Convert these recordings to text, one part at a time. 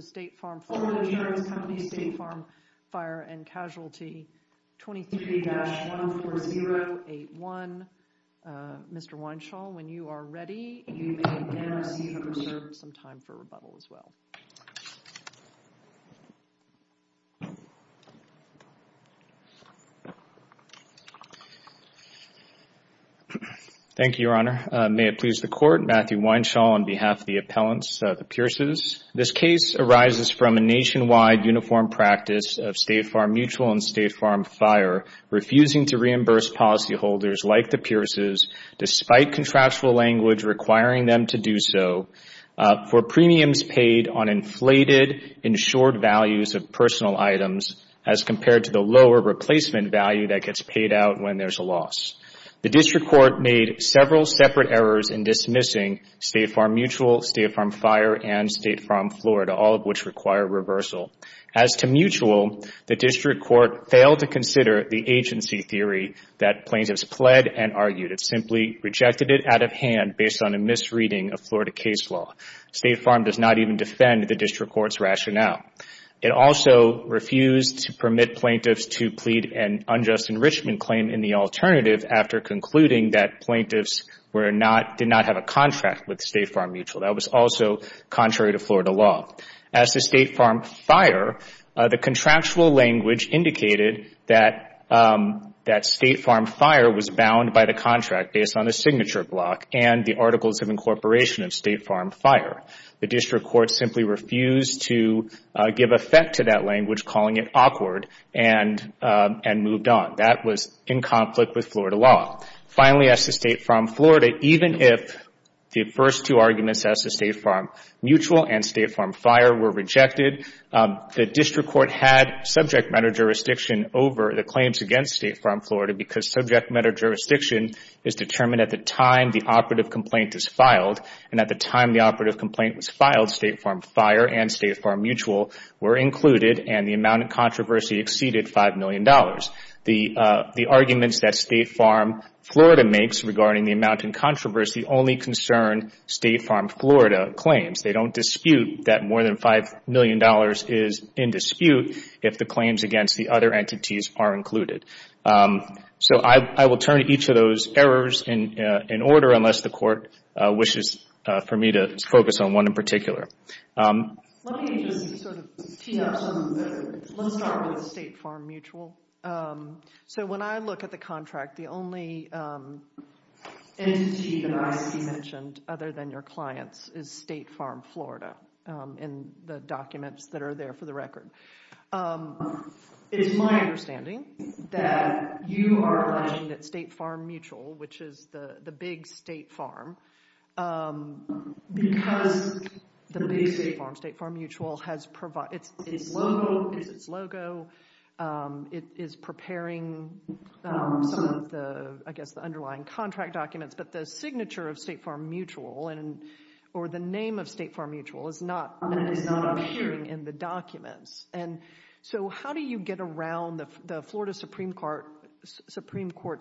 State Farm Fire and Casualty, 23-14081. Mr. Weinshall, when you are ready, you may again receive a reserve of some time for rebuttal as well. Thank you, Your Honor. May it please the Court, Matthew Weinshall on behalf of the appellants, the Pearces. This case arises from a nationwide uniform practice of State Farm Mutual and State Farm Fire refusing to reimburse policyholders like the Pearces despite contractual language requiring them to do so for premiums paid on inflated insured values of personal items as compared to the lower replacement value that gets paid out when there is a loss. The District Court made several separate errors in dismissing State Farm Mutual, State Farm Fire and State Farm Florida, all of which require reversal. As to Mutual, the District Court failed to consider the agency theory that plaintiffs pled and rejected it out of hand based on a misreading of Florida case law. State Farm does not even defend the District Court's rationale. It also refused to permit plaintiffs to plead an unjust enrichment claim in the alternative after concluding that plaintiffs did not have a contract with State Farm Mutual. That was also contrary to Florida law. As to State Farm Fire, the contractual language indicated that State Farm Fire was bound by the contractual based on the signature block and the articles of incorporation of State Farm Fire. The District Court simply refused to give effect to that language calling it awkward and moved on. That was in conflict with Florida law. Finally, as to State Farm Florida, even if the first two arguments as to State Farm Mutual and State Farm Fire were rejected, the District Court had subject matter jurisdiction over the claims against State Farm Florida because subject matter jurisdiction is determined at the time the operative complaint is filed. At the time the operative complaint was filed, State Farm Fire and State Farm Mutual were included and the amount of controversy exceeded $5 million. The arguments that State Farm Florida makes regarding the amount in controversy only concern State Farm Florida claims. They don't dispute that more than $5 million is in dispute if the claims against the other entities are included. I will turn each of those errors in order unless the court wishes for me to focus on one in particular. Let me just sort of tee up some of the... Let's start with State Farm Mutual. When I look at the contract, the only entity that I see mentioned other than your clients is State Farm Florida in the documents that are there for the record. It's my understanding that you are claiming that State Farm Mutual, which is the big State Farm, because the big State Farm, State Farm Mutual, has provided... Its logo, it is preparing some of the, I guess, the underlying contract documents, but the signature of State Farm Mutual or the name of State Farm Mutual is not appearing in the documents. How do you get around the Florida Supreme Court's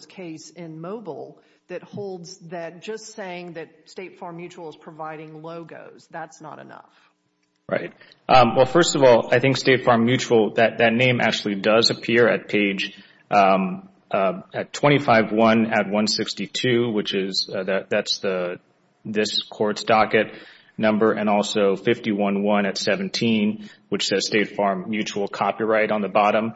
case in Mobile that holds that just saying that State Farm Mutual is providing logos, that's not enough? Right. Well, first of all, I think State Farm Mutual, that name actually does appear at page 25-1 at 162, which is... That's this court's docket number, and also 51-1 at 17, which says State Farm Mutual copyright on the bottom.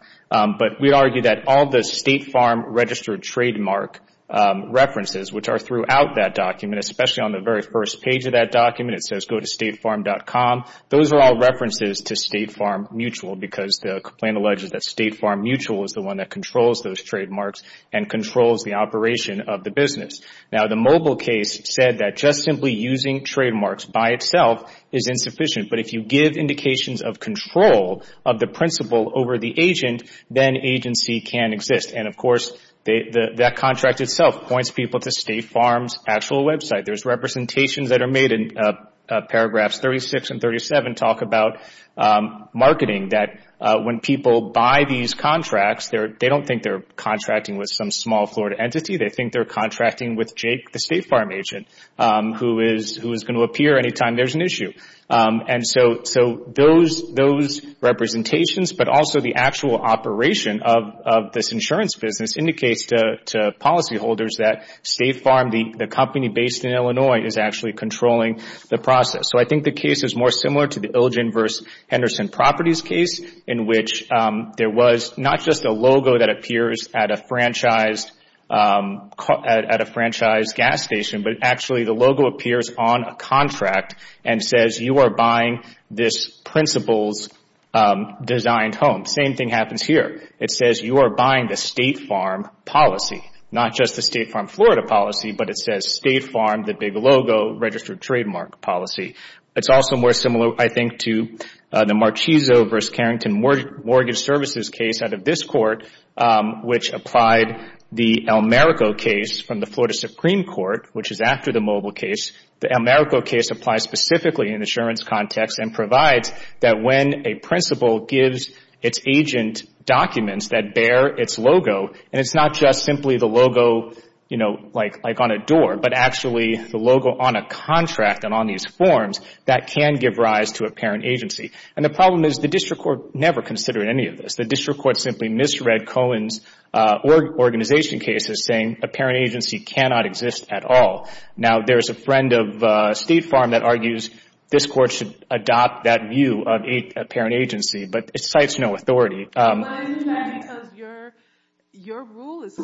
We argue that all the State Farm registered trademark references, which are throughout that document, especially on the very first page of that document, it says go to statefarm.com. Those are all references to State Farm Mutual because the complaint alleges that State Farm Mutual is the one that controls those trademarks and controls the operation of the business. Now, the Mobile case said that just simply using trademarks by itself is insufficient, but if you give indications of control of the principle over the agent, then agency can exist. Of course, that contract itself points people to State Farm's actual website. There's representations that are made in paragraphs 36 and 37 talk about marketing that when people buy these contracts, they don't think they're contracting with some small Florida entity. They think they're contracting with Jake, the State Farm agent, who is going to appear anytime there's an issue. Those representations, but also the actual operation of this insurance business indicates to policyholders that State Farm, the company based in Illinois, is actually controlling the process. I think the case is more similar to the Ilgen v. Henderson Properties case in which there was not just a logo that appears at a franchised gas station, but actually the logo appears on a contract and says you are buying this principal's designed home. Same thing happens here. It says you are buying the State Farm policy, not just the State Farm Florida policy, but it says State Farm, the big logo, registered trademark policy. It's also more similar, I think, to the Marchiso v. Carrington Mortgage Services case out of this court, which applied the Almerico case from the Florida Supreme Court, which is after the Mobile case. The Almerico case applies specifically in the insurance context and provides that when a principal gives its agent documents that bear its logo, and it's not just simply the logo on a door, but actually the logo on a contract and on these forms, that can give rise to apparent agency. The problem is the district court never considered any of this. The district court simply misread Cohen's organization case as saying apparent agency cannot exist at all. There's a friend of State Farm that argues this court should adopt that view of apparent agency, but it cites no authority. Your rule is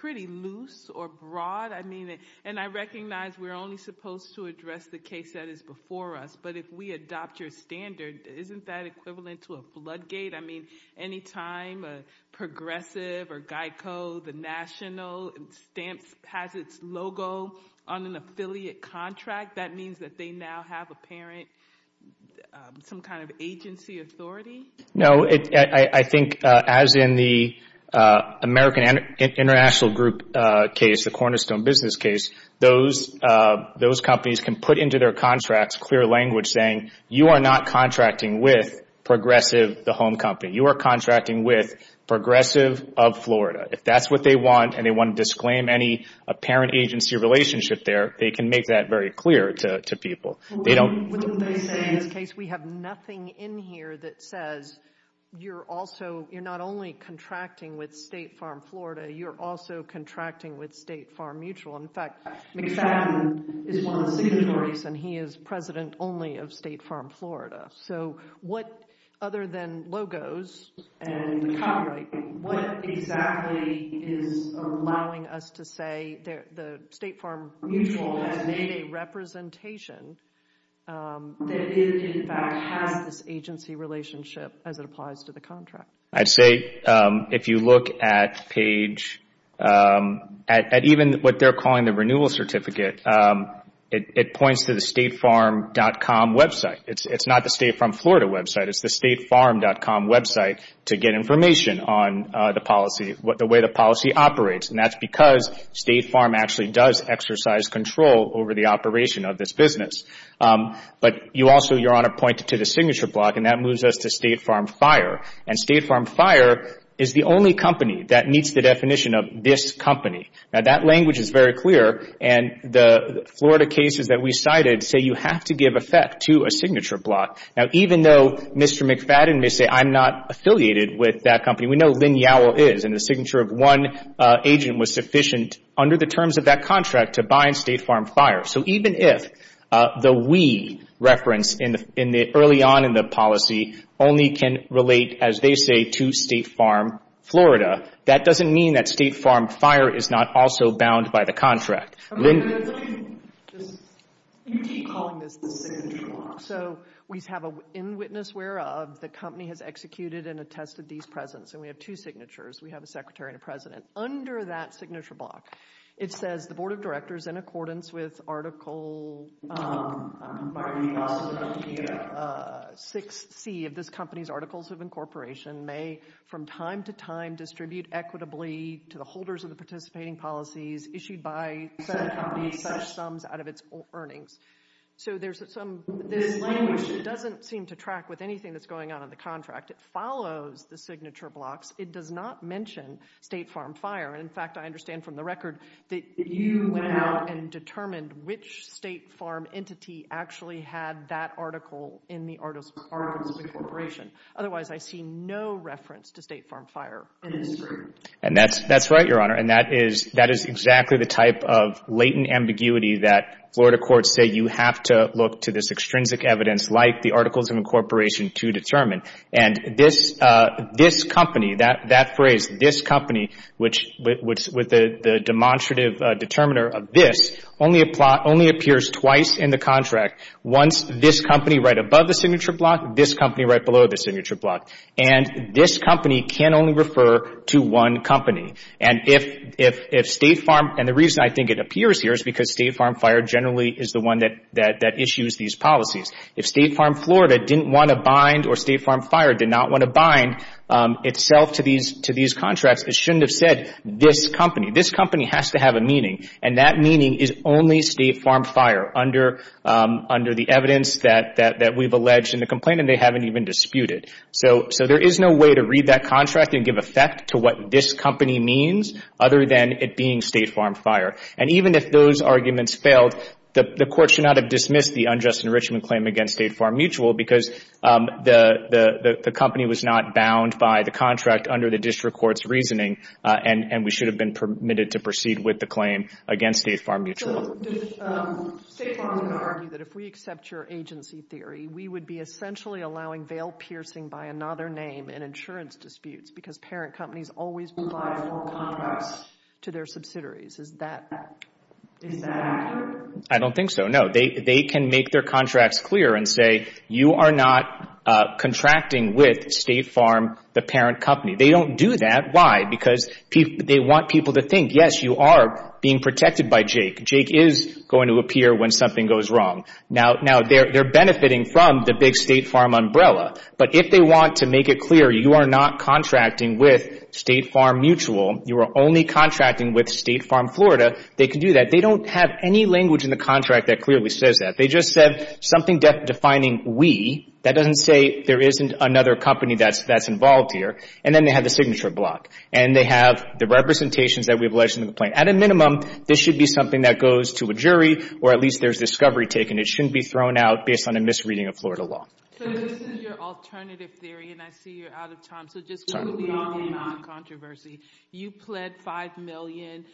pretty loose or broad. I recognize we're only supposed to address the case that is before us, but if we adopt your standard, isn't that equivalent to a floodgate? Any time a progressive or GEICO, the national, has its logo on an affiliate contract, that means that they now have apparent agency authority? No. I think, as in the American International Group case, the Cornerstone Business case, those companies can put into their contracts clear language saying, you are not contracting with Progressive, the home company. You are contracting with Progressive of Florida. If that's what they want, and they want to disclaim any apparent agency relationship there, they can make that very clear to people. Wouldn't they say, in this case, we have nothing in here that says you're not only contracting with State Farm Florida, you're also contracting with State Farm Mutual? In fact, McFadden is one of the signatories, and he is president only of State Farm Florida. So what, other than logos and copyright, what exactly is allowing us to say the State Farm Mutual has made a representation that it, in fact, has this agency relationship as it applies to the contract? I'd say, if you look at page, at even what they're calling the renewal certificate, it points to the statefarm.com website. It's not the State Farm Florida website. It's the statefarm.com website to get information on the policy, the way the policy operates, and that's because State Farm actually does exercise control over the operation of this business. But you also, Your Honor, pointed to the signature block, and that moves us to State Farm Fire. And State Farm Fire is the only company that meets the definition of this company. Now, that language is very clear, and the Florida cases that we cited say you have to give effect to a signature block. Now, even though Mr. McFadden may say, I'm not affiliated with that company, we know Lynn Yowell is, and the signature of one agent was sufficient under the terms of that contract to bind State Farm Fire. So even if the we reference early on in the policy only can relate, as they say, to State Farm Florida, that doesn't mean that State Farm Fire is not also bound by the contract. Okay, let's look at this. You keep calling this the signature block. So we have an in witness where the company has executed and attested these presence, and we have two signatures. We have a secretary and a president. Under that signature block, it says the Board of Directors, in accordance with Article 6C of this company's Articles of Incorporation, may from time to time distribute equitably to the holders of the participating policies issued by said company such sums out of its earnings. So there's this language that doesn't seem to track with anything that's going on in the contract. It follows the signature blocks. It does not mention State Farm Fire. And in fact, I understand from the record that you went out and determined which State Farm entity actually had that article in the Articles of Incorporation. Otherwise, I see no reference to State Farm Fire in this group. And that's right, Your Honor. And that is exactly the type of latent ambiguity that Florida courts say you have to look to this extrinsic evidence like the Articles of Incorporation to determine. And this company, that phrase, this company, which with the demonstrative determiner of this, only appears twice in the contract. Once this company right above the signature block, this company right below the signature block. And this company can only refer to one company. And if State Farm, and the reason I think it appears here is because State Farm Fire generally is the one that issues these policies. If State Farm Florida didn't want to bind or State Farm Fire did not want to bind itself to these contracts, it shouldn't have said this company. This company has to have a meaning. And that meaning is only State Farm Fire under the evidence that we've alleged in the complaint and they haven't even disputed. So there is no way to read that contract and give effect to what this company means other than it being State Farm Fire. And even if those arguments failed, the court should not have dismissed the unjust enrichment claim against State Farm Mutual because the company was not bound by the contract under the district court's reasoning and we should have been permitted to proceed with the claim against State Farm Mutual. So State Farm would argue that if we accept your agency theory, we would be essentially allowing veil piercing by another name in insurance disputes because parent companies always provide full contracts to their subsidiaries. Is that accurate? I don't think so, no. They can make their contracts clear and say, you are not contracting with State Farm, the parent company. They don't do that. Why? Because they want people to think, yes, you are being protected by Jake. Jake is going to appear when something goes wrong. Now, they're benefiting from the big State Farm umbrella. But if they want to make it clear, you are not contracting with State Farm Mutual, you are only contracting with State Farm Florida, they can do that. They don't have any language in the contract that clearly says that. They just said something defining we. That doesn't say there isn't another company that's involved here. And then they have the signature block. And they have the representations that we've alleged in the complaint. At a minimum, this should be something that goes to a jury or at least there's discovery taken. It shouldn't be thrown out based on a misreading of Florida law. So this is your alternative theory and I see you're out of time. So just quickly on controversy. You pled $5 million.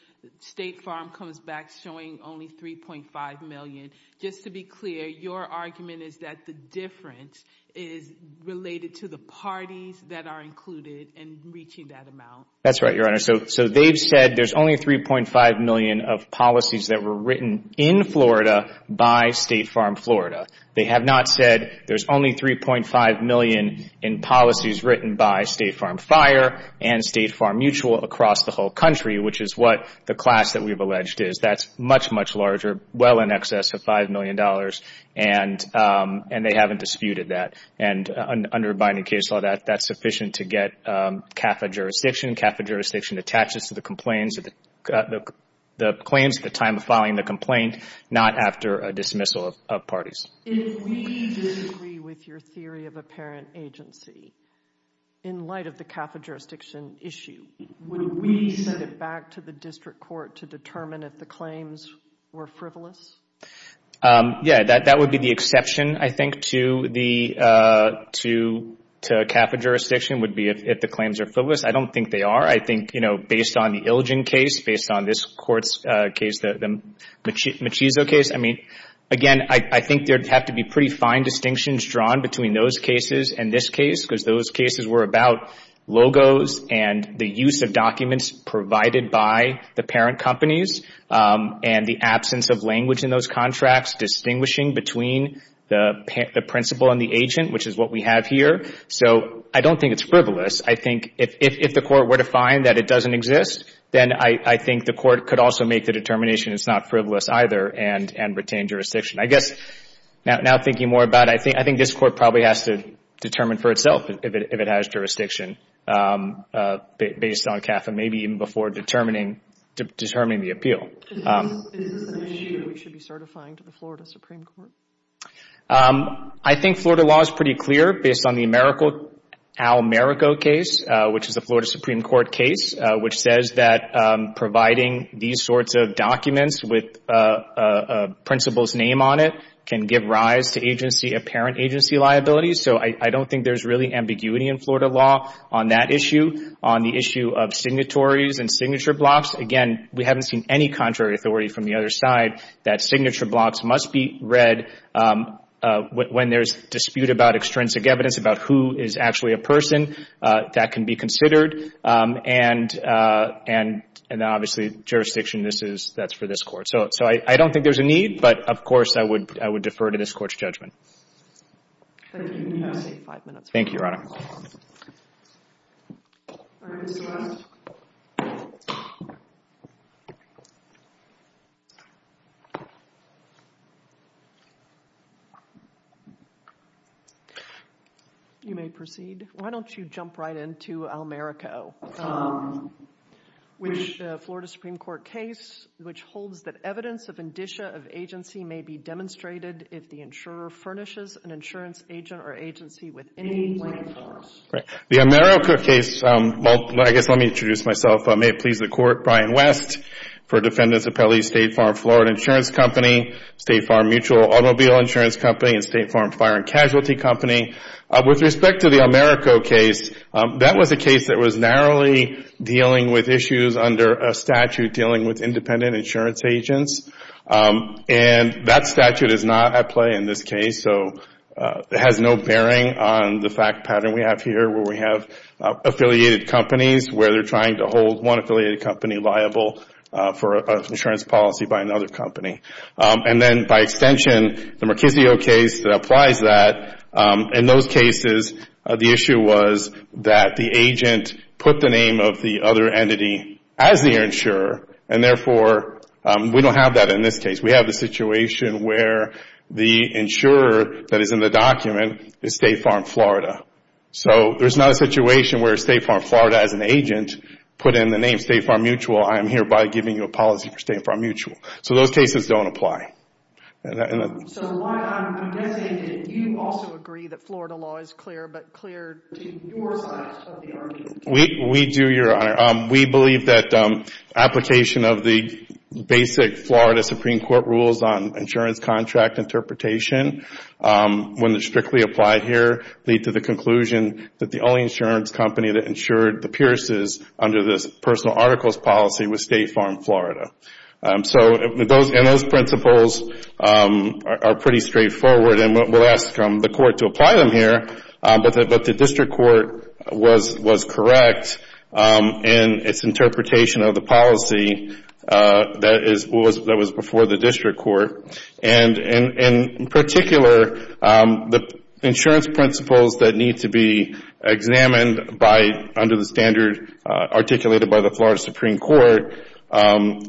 State Farm comes back showing only $3.5 million. Just to be clear, your argument is that the difference is related to the parties that are included in reaching that amount. That's right, Your Honor. So they've said there's only $3.5 million of policies that were written in Florida by State Farm Florida. They have not said there's only $3.5 million in policies written by State Farm Fire and State Farm Mutual across the whole country, which is what the class that we've alleged is. That's much, much larger, well in excess of $5 million. And they haven't disputed that. And under a binding case law, that's sufficient to get CAFA jurisdiction. CAFA jurisdiction attaches to the claims at the time of filing the complaint, not after a dismissal of parties. If we disagree with your theory of apparent agency, in light of the CAFA jurisdiction issue, would we send it back to the district court to determine if the claims were frivolous? Yeah, that would be the exception, I think, to CAFA jurisdiction would be if the claims are frivolous. I don't think they are. I think, you know, based on the Ilgen case, based on this court's case, the Machizo case, I mean, again, I think there'd have to be pretty fine distinctions drawn between those cases and this case, because those cases were about logos and the use of documents provided by the parent companies, and the absence of language in those contracts distinguishing between the principal and the agent, which is what we have here. So I don't think it's frivolous. I think if the court were to find that it doesn't exist, then I think the court could also make the determination it's not frivolous either and retain jurisdiction. I guess now thinking more about it, I think this court probably has to determine for itself if it has jurisdiction based on CAFA, maybe even before determining the appeal. Is this an issue we should be certifying to the Florida Supreme Court? I think Florida law is pretty clear based on the Almerico case, which is a Florida Supreme Court case, which says that providing these sorts of documents with a principal's name on it can give rise to apparent agency liability. So I don't think there's really ambiguity in Florida law on that issue. On the issue of signatories and signature blocks, again, we haven't seen any contrary authority from the other side that signature blocks must be read when there's dispute about extrinsic evidence about who is actually a person. That can be considered. And obviously, jurisdiction, that's for this court. So I don't think there's a need, but of course, I would defer to this court's judgment. Thank you, Your Honor. Thank you, Your Honor. You may proceed. Why don't you jump right into Almerico, which is a Florida Supreme Court case, which holds that evidence of indicia of agency may be demonstrated if the insurer furnishes an insurance agent or agency with any liability. The Almerico case, I guess let me introduce myself. May it please the Court, Brian West for Defendants Appellee State Farm Florida Insurance Company, State Farm Mutual Automobile Insurance Company, and State Farm Fire and Casualty Company. With respect to the Almerico case, that was a case that was narrowly dealing with issues under a statute dealing with independent insurance agents. And that statute is not at play in this case, so it has no bearing on the fact pattern we have here where we have affiliated companies where they're trying to hold one affiliated company liable for an insurance policy by another company. And then by extension, the Marchisio case applies that. In those cases, the issue was that the agent put the name of the other entity as the insurer, and therefore we don't have that in this case. We have the situation where the insurer that is in the document is State Farm Florida. So there's not a situation where State Farm Florida as an agent put in the name State Farm Mutual, I am hereby giving you a policy for State Farm Mutual. So those cases don't apply. So why, I'm guessing, did you also agree that Florida law is clear, but clear to your side of the argument? We do, Your Honor. We believe that application of the basic Florida Supreme Court rules on insurance contract interpretation, when they're strictly applied here, lead to the conclusion that the only insurance company that insured the Pierce's under this personal articles policy was State Farm Florida. So those principles are pretty straightforward, and we'll ask the court to apply them here, but the district court was correct in its interpretation of the policy that was before the district court. And in particular, the insurance principles that need to be examined by, under the standard articulated by the Florida Supreme Court,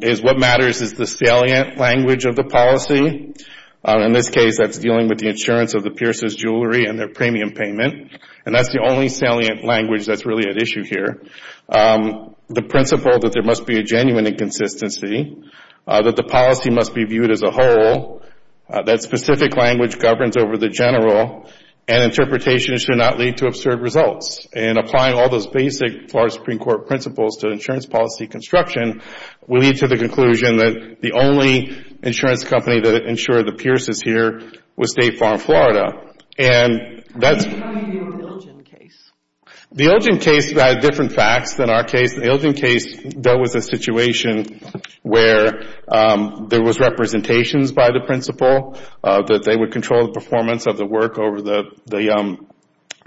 is what matters is the salient language of the policy. In this case, that's dealing with the insurance of the Pierce's jewelry and their premium payment, and that's the only salient language that's really at issue here. The principle that there must be a genuine inconsistency, that the policy must be viewed as a whole, that specific language governs over the general, and interpretation should not lead to absurd results. And applying all those basic Florida Supreme Court principles to insurance policy construction will lead to the conclusion that the only insurance company that insured the Pierce's here was State Farm Florida. And that's... How do you know in your Ilgen case? The Ilgen case had different facts than our case. In the Ilgen case, there was a situation where there was representations by the principle that they would control the performance of the work over the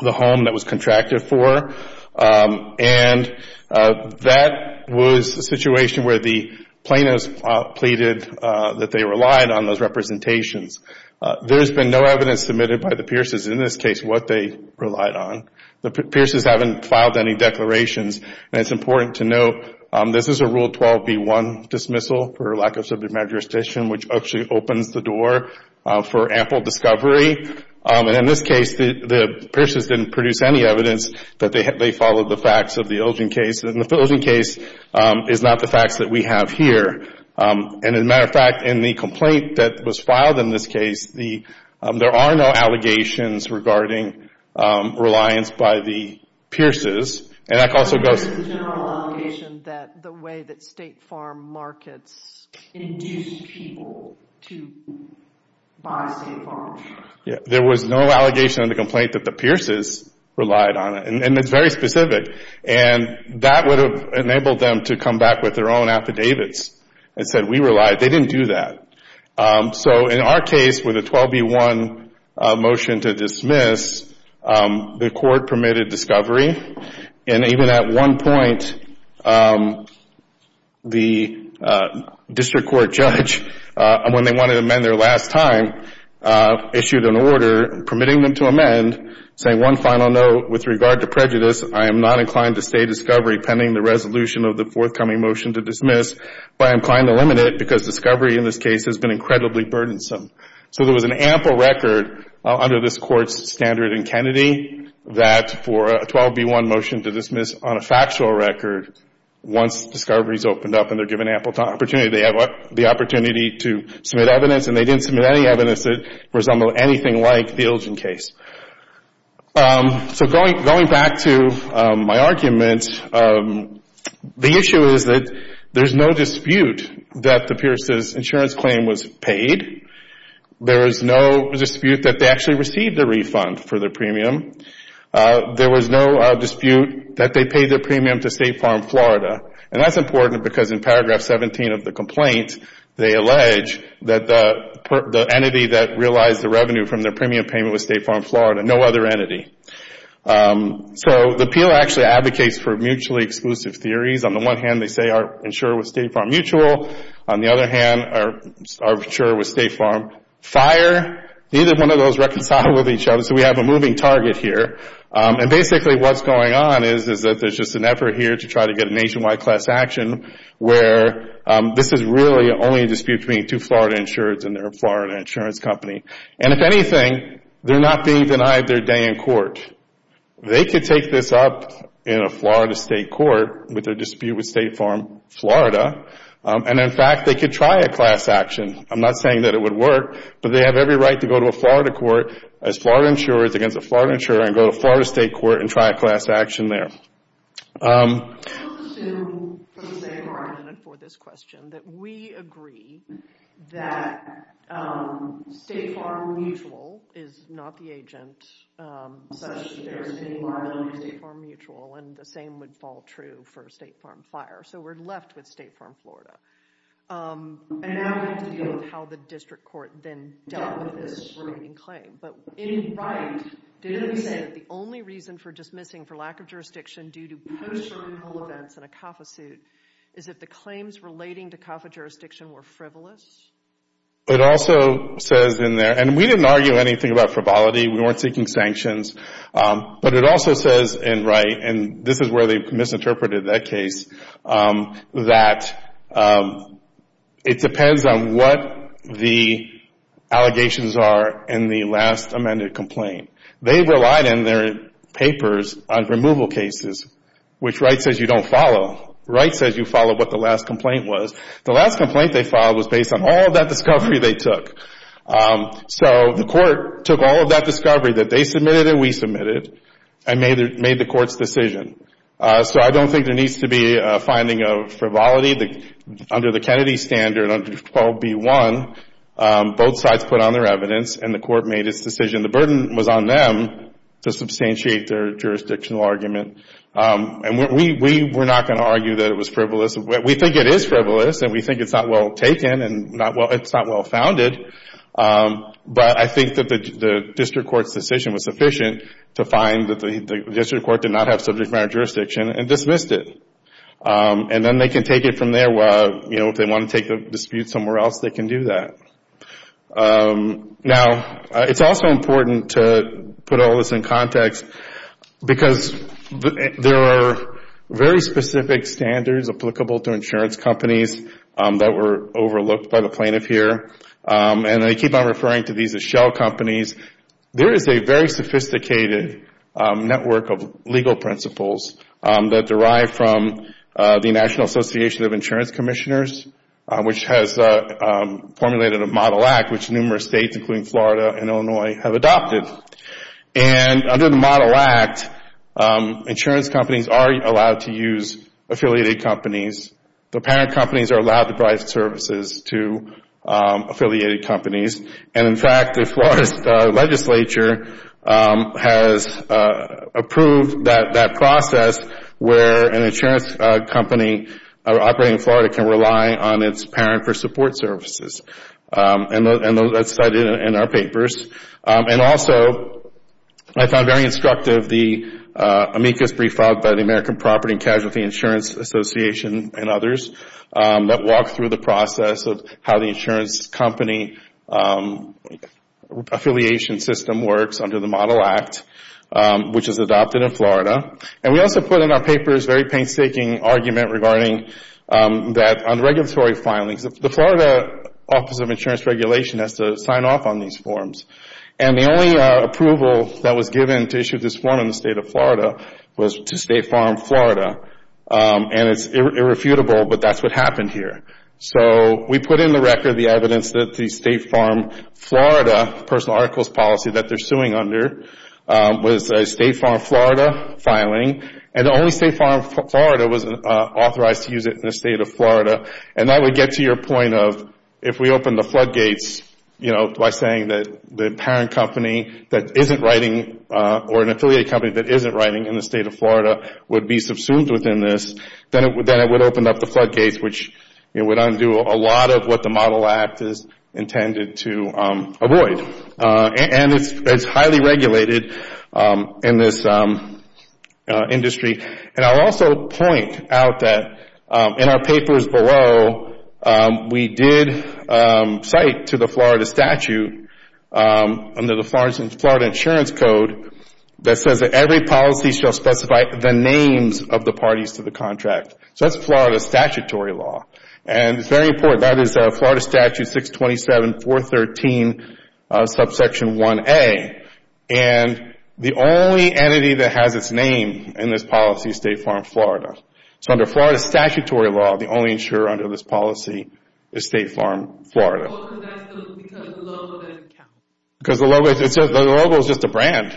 home that was contracted for. And that was the situation where the plaintiffs pleaded that they relied on those representations. There's been no evidence submitted by the Pierce's in this case what they relied on. The Pierce's haven't filed any declarations. And it's important to note, this is a Rule 12b1 dismissal for lack of subject matter jurisdiction, which actually opens the door for ample discovery. And in this case, the Pierce's didn't produce any evidence that they followed the facts of the Ilgen case. And the Ilgen case is not the facts that we have here. And as a matter of fact, in the complaint that was filed in this case, there are no allegations regarding reliance by the Pierce's. And that also goes... There was no allegation that the way that State Farm markets induce people to buy State There was no allegation in the complaint that the Pierce's relied on it. And it's very specific. And that would have enabled them to come back with their own affidavits and said, we relied. They didn't do that. So in our case, with a 12b1 motion to dismiss, the court decided to permit a discovery. And even at one point, the district court judge, when they wanted to amend their last time, issued an order permitting them to amend, saying, one final note with regard to prejudice, I am not inclined to say discovery pending the resolution of the forthcoming motion to dismiss, but I'm inclined to limit it because discovery in this case has been incredibly burdensome. So there was an ample record under this court's standard in Kennedy that for a 12b1 motion to dismiss on a factual record, once discovery is opened up and they're given ample opportunity, they have the opportunity to submit evidence. And they didn't submit any evidence that resembled anything like the Ilgen case. So going back to my argument, the issue is that there's no dispute that the Pierce's there is no dispute that they actually received a refund for their premium. There was no dispute that they paid their premium to State Farm Florida. And that's important because in paragraph 17 of the complaint, they allege that the entity that realized the revenue from their premium payment was State Farm Florida, no other entity. So the appeal actually advocates for mutually exclusive theories. On the one hand, they say our insurer was State Farm Mutual. On the other hand, our insurer was State Farm Fire. Neither one of those reconciled with each other. So we have a moving target here. And basically what's going on is that there's just an effort here to try to get a nationwide class action where this is really only a dispute between two Florida insurers and their Florida insurance company. And if anything, they're not being denied their day in court. They could take this up in a Florida state court with a dispute with State Farm Florida. And in fact, they could try a class action. I'm not saying that it would work, but they have every right to go to a Florida court as Florida insurers against a Florida insurer and go to a Florida state court and try a class action there. Let's assume for the sake of argument and for this question that we agree that State Farm Mutual and the same would fall true for State Farm Fire. So we're left with State Farm Florida. And now we have to deal with how the district court then dealt with this remaining claim. But in Wright, didn't he say that the only reason for dismissing for lack of jurisdiction due to post-certain events in a CAFA suit is that the claims relating to CAFA jurisdiction were frivolous? It also says in there, and we didn't argue anything about frivolity. We weren't seeking sanctions. But it also says in Wright, and this is where they misinterpreted that case, that it depends on what the allegations are in the last amended complaint. They relied in their papers on removal cases, which Wright says you don't follow. Wright says you follow what the last complaint was. The last complaint they filed was based on all of that discovery they took. So the court took all of that discovery that they submitted and we submitted and made the court's decision. So I don't think there needs to be a finding of frivolity. Under the Kennedy standard under 12b-1, both sides put on their evidence and the court made its decision. The burden was on them to substantiate their jurisdictional argument. And we're not going to argue that it was frivolous. We think it is frivolous and we think it's not well taken and it's not well founded. But I think that the district court's decision was sufficient to find that the district court did not have subject matter jurisdiction and dismissed it. And then they can take it from there. If they want to take the dispute somewhere else, they can do that. Now it's also important to put all of this in context because there are very specific standards applicable to insurance companies that were overlooked by the plaintiff here. And I keep on referring to these as shell companies. There is a very sophisticated network of legal principles that derive from the National Association of Insurance Commissioners which has formulated a model act which numerous states including Florida and Illinois have adopted. And under the model act, insurance companies are allowed to use affiliated companies. The parent companies are allowed to provide services to affiliated companies. And in fact, the Florida legislature has approved that process where an insurance company operating in Florida can rely on its parent for support services. And that's cited in our papers. And also, I found very instructive the amicus brief filed by the American Property and Casualty Insurance Association and others that walk through the process of how the insurance company affiliation system works under the model act which is adopted in Florida. And we also put in our papers a very painstaking argument regarding that on regulatory filings, because the Florida Office of Insurance Regulation has to sign off on these forms. And the only approval that was given to issue this form in the state of Florida was to State Farm Florida. And it's irrefutable, but that's what happened here. So we put in the record the evidence that the State Farm Florida personal articles policy that they're suing under was a State Farm Florida filing. And the only State Farm Florida was authorized to use it in the state of Florida. And that would get to your point of if we open the floodgates, you know, by saying that the parent company that isn't writing or an affiliated company that isn't writing in the state of Florida would be subsumed within this, then it would open up the floodgates which would undo a lot of what the model act is intended to avoid. And it's highly regulated in this industry. And I'll also point out that in our papers below, we did cite to the Florida statute under the Florida Insurance Code that says that every policy shall specify the names of the parties to the contract. So that's Florida statutory law. And it's very important. That is Florida Statute 627.413, subsection 1A. And the only entity that has its name in this policy is State Farm Florida. So under Florida statutory law, the only insurer under this policy is State Farm Florida. Because the logo doesn't count. Because the logo is just a brand.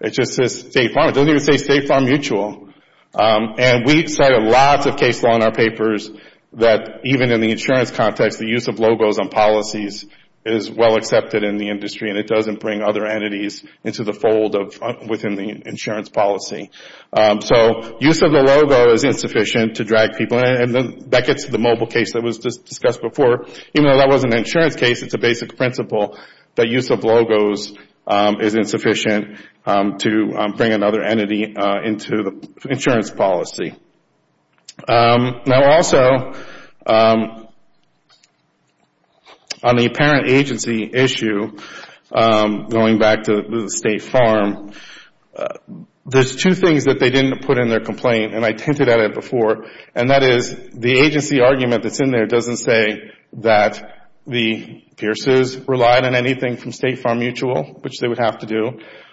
It just says State Farm. It doesn't even say State Farm Mutual. And we cited lots of case law in our papers that even in the insurance context, the use of logos on policies is well accepted in the industry and it doesn't bring other entities into the fold within the insurance policy. So use of the logo is insufficient to drag people in. And that gets to the mobile case that was discussed before. Even though that wasn't an insurance case, it's a basic principle that use of logos is insufficient to bring another entity into the insurance policy. Now also, on the parent agency issue, going back to the insurance policy, the parent agency back to the State Farm, there's two things that they didn't put in their complaint and I hinted at it before. And that is the agency argument that's in there doesn't say that the Pierces relied on anything from State Farm Mutual, which they would have to do.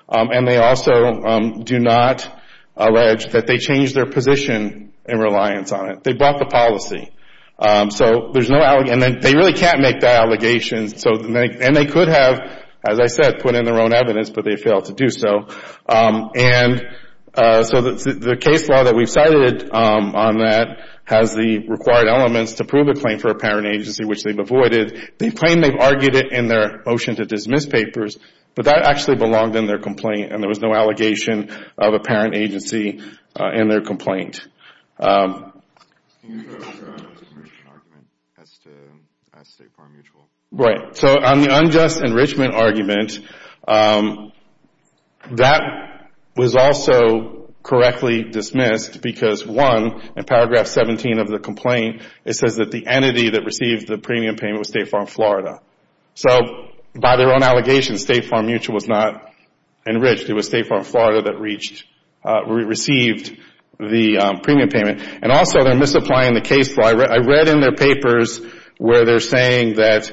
And they also do not allege that they changed their position in reliance on it. They brought the policy. So there's no allegation. And they really can't make that allegation. And they could have, as I said, put in their own evidence, but they failed to do so. And so the case law that we've cited on that has the required elements to prove a claim for a parent agency, which they've avoided. They claim they've argued it in their motion to dismiss papers, but that actually belonged in their complaint and there was no allegation of a parent agency in their complaint. Right. So on the unjust enrichment argument, that was also correctly dismissed because one, in paragraph 17 of the complaint, it says that the entity that received the premium payment was State Farm Florida. So by their own allegation, State Farm Mutual was not enriched. It was State Farm Florida that received the premium payment. And also they're misapplying the case law. I read in their papers where they're saying that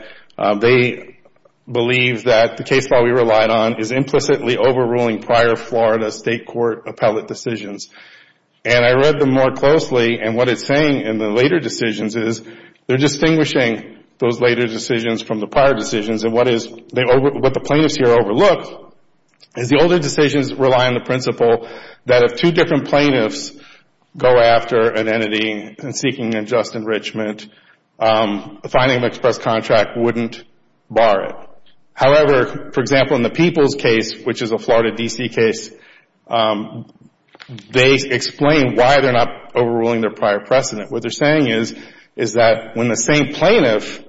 they believe that the case law we relied on is implicitly overruling prior Florida State Court appellate decisions. And I read them more closely, and what it's saying in the later decisions is they're distinguishing those later decisions from the prior decisions. And what the plaintiffs here overlook is the older decisions rely on the principle that if two different plaintiffs go after an entity and seeking unjust enrichment, a finding of express contract wouldn't bar it. However, for example, in the Peoples case, which is a Florida D.C. case, they explain why they're not overruling their prior precedent. What they're saying is that when the same entity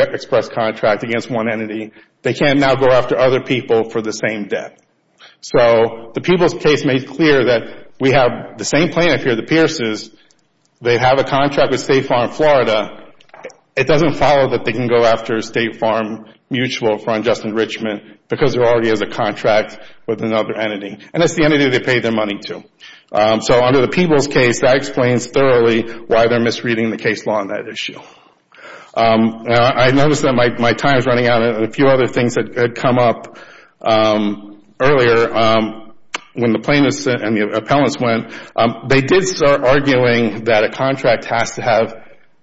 gets express contract against one entity, they can't now go after other people for the same debt. So the Peoples case made clear that we have the same plaintiff here, the Pierces. They have a contract with State Farm Florida. It doesn't follow that they can go after State Farm Mutual for unjust enrichment because there already is a contract with another entity. And it's the entity they paid their money to. So under the Peoples case, that explains thoroughly why they're misreading the case law on that issue. I noticed that my time is running out. And a few other things that had come up earlier when the plaintiffs and the appellants went, they did start arguing that a contract has to have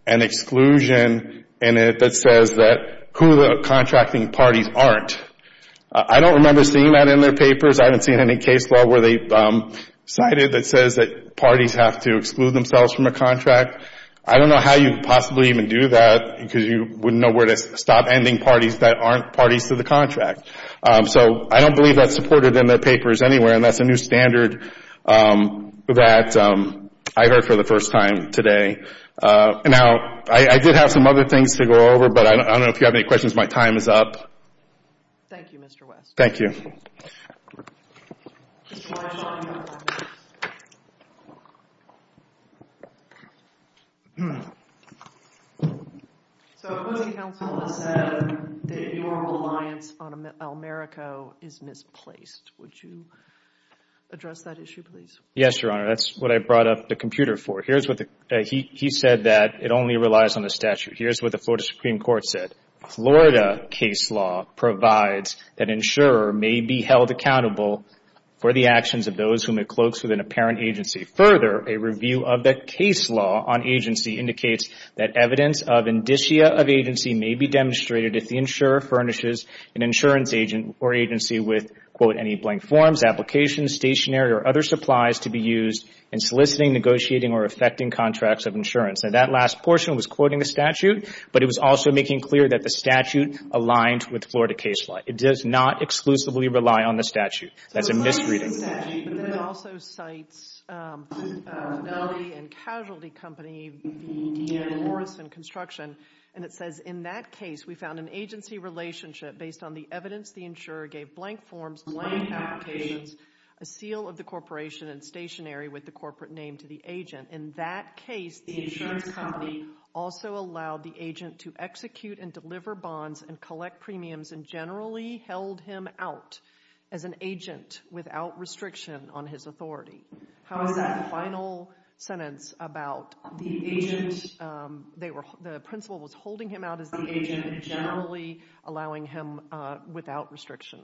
an exclusion in it that says that who the contracting parties aren't. I don't remember seeing that in their papers. I haven't seen any case law where they cited that says that parties have to exclude themselves from a contract. I don't know how you could possibly even do that because you wouldn't know where to stop ending parties that aren't parties to the contract. So I don't believe that's supported in their papers anywhere. And that's a new standard that I heard for the first time today. Now, I did have some other things to go over, but I don't know if you have any questions. My time is up. Thank you, Mr. West. Thank you. Mr. Weinstein, you have five minutes. So, if a counsel has said that your reliance on Almerico is misplaced, would you address that issue, please? Yes, Your Honor. That's what I brought up the computer for. He said that it only relies on the statute. Here's what the Florida Supreme Court said. Florida case law provides that an insurer may be held accountable for the actions of those whom it cloaks with an apparent agency. Further, a review of the case law on agency indicates that evidence of indicia of agency may be demonstrated if the insurer furnishes an insurance agent or agency with any blank forms, applications, stationery, or other supplies to be used in soliciting, negotiating, or effecting contracts of insurance. That last portion was quoting the statute, but it was also making clear that the statute is being aligned with Florida case law. It does not exclusively rely on the statute. That's a misreading. So, it cites the statute, but then it also cites Nelly and Casualty Company, the D.A. Morrison Construction, and it says, in that case, we found an agency relationship based on the evidence the insurer gave blank forms, blank applications, a seal of the corporation and stationery with the corporate name to the agent. In that case, the insurance company also allowed the agent to execute and deliver bonds and collect premiums and generally held him out as an agent without restriction on his authority. How is that final sentence about the agent, the principal was holding him out as the agent and generally allowing him without restriction?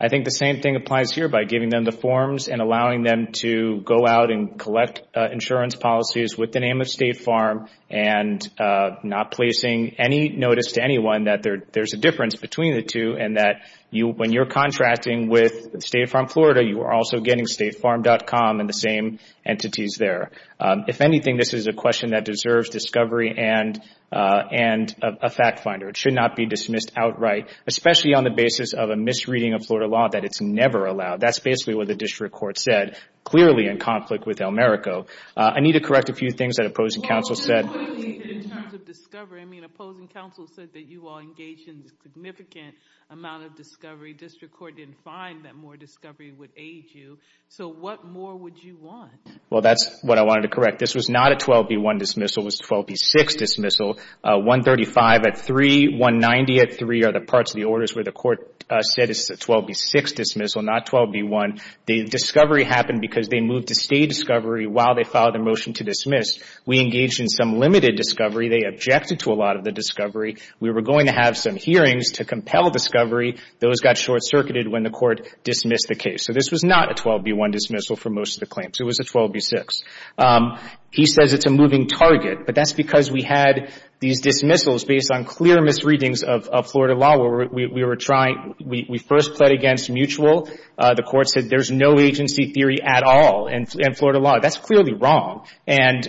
I think the same thing applies here by giving them the forms and allowing them to go out and collect insurance policies with the name of State Farm and not placing any notice to anyone that there's a difference between the two and that when you're contracting with State Farm Florida, you are also getting StateFarm.com and the same entities there. If anything, this is a question that deserves discovery and a fact finder. It should not be dismissed outright, especially on the basis of a misreading of Florida law that it's never allowed. That's basically what the district court said, clearly in conflict with El Merico. I need to correct a few things that opposing counsel said. In terms of discovery, I mean, opposing counsel said that you all engaged in a significant amount of discovery. District court didn't find that more discovery would aid you, so what more would you want? Well, that's what I wanted to correct. This was not a 12B1 dismissal, it was a 12B6 dismissal. 135 at 3, 190 at 3 are the parts of the orders where the court said it's a 12B6 dismissal, not 12B1. The discovery happened because they moved to stay discovery while they filed a motion to dismiss. We engaged in some limited discovery. They objected to a lot of the discovery. We were going to have some hearings to compel discovery. Those got short-circuited when the court dismissed the case. So this was not a 12B1 dismissal for most of the claims. It was a 12B6. He says it's a moving target, but that's because we had these dismissals based on clear misreadings of Florida law where we were trying, we first pled against mutual. The court said there's no agency theory at all in Florida law. That's clearly wrong. And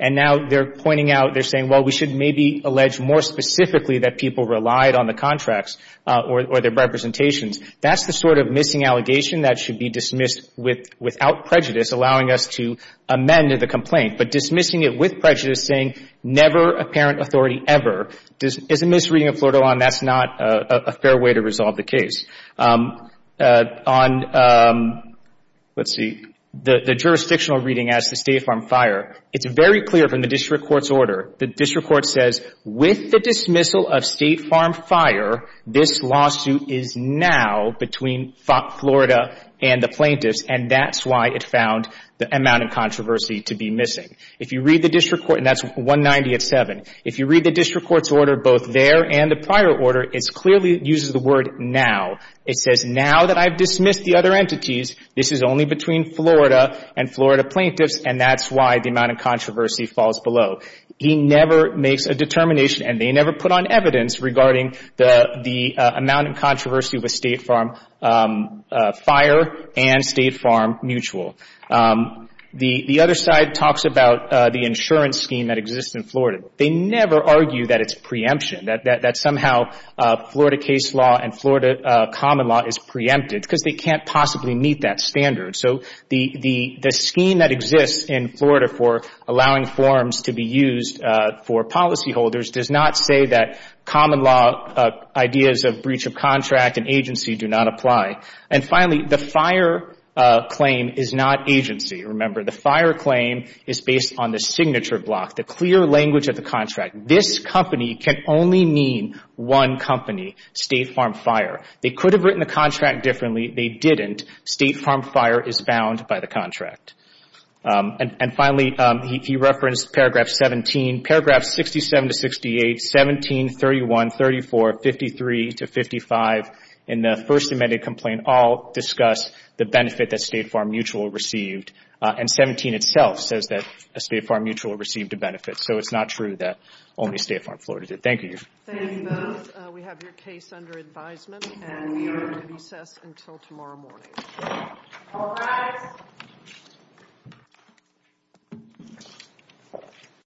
now they're pointing out, they're saying, well, we should maybe allege more specifically that people relied on the contracts or their representations. That's the sort of missing allegation that should be dismissed without prejudice, allowing us to amend the complaint. But dismissing it with prejudice saying never apparent authority ever is a misreading of Florida law, and that's not a fair way to resolve the case. On, let's see, the jurisdictional reading as to State Farm Fire, it's very clear from the district court's order. The district court says with the dismissal of State Farm Fire, this lawsuit is now between Florida and the plaintiffs, and that's why it found the amount of controversy to be missing. If you read the district court, and that's 190 at 7, if you read the district court's order both there and the prior order, it clearly uses the word now. It says now that I've dismissed the other entities, this is only between Florida and Florida plaintiffs, and that's why the amount of controversy falls below. He never makes a determination, and they never put on evidence regarding the amount of controversy with State Farm Fire and State Farm Mutual. The other side talks about the insurance scheme that exists in Florida. They never argue that it's preemption, that somehow Florida case law and Florida common law is preempted because they can't possibly meet that standard. So the scheme that exists in Florida for allowing forms to be used for policyholders does not say that common law ideas of breach of contract and agency do not apply. And finally, the fire claim is not agency. Remember, the fire claim is based on the signature block, the clear language of the contract. This company can only mean one company, State Farm Fire. They could have written the contract differently. They didn't. State Farm Fire is bound by the contract. And finally, he referenced paragraph 17. Paragraphs 67 to 68, 17, 31, 34, 53 to 55, in the first amended complaint, all discuss the benefit that State Farm Mutual received. And 17 itself says that State Farm Mutual received a benefit. So it's not true that only State Farm Florida did. Thank you. Thank you both. We have your case under advisement, and we are going to recess until tomorrow morning. All rise. Thank you.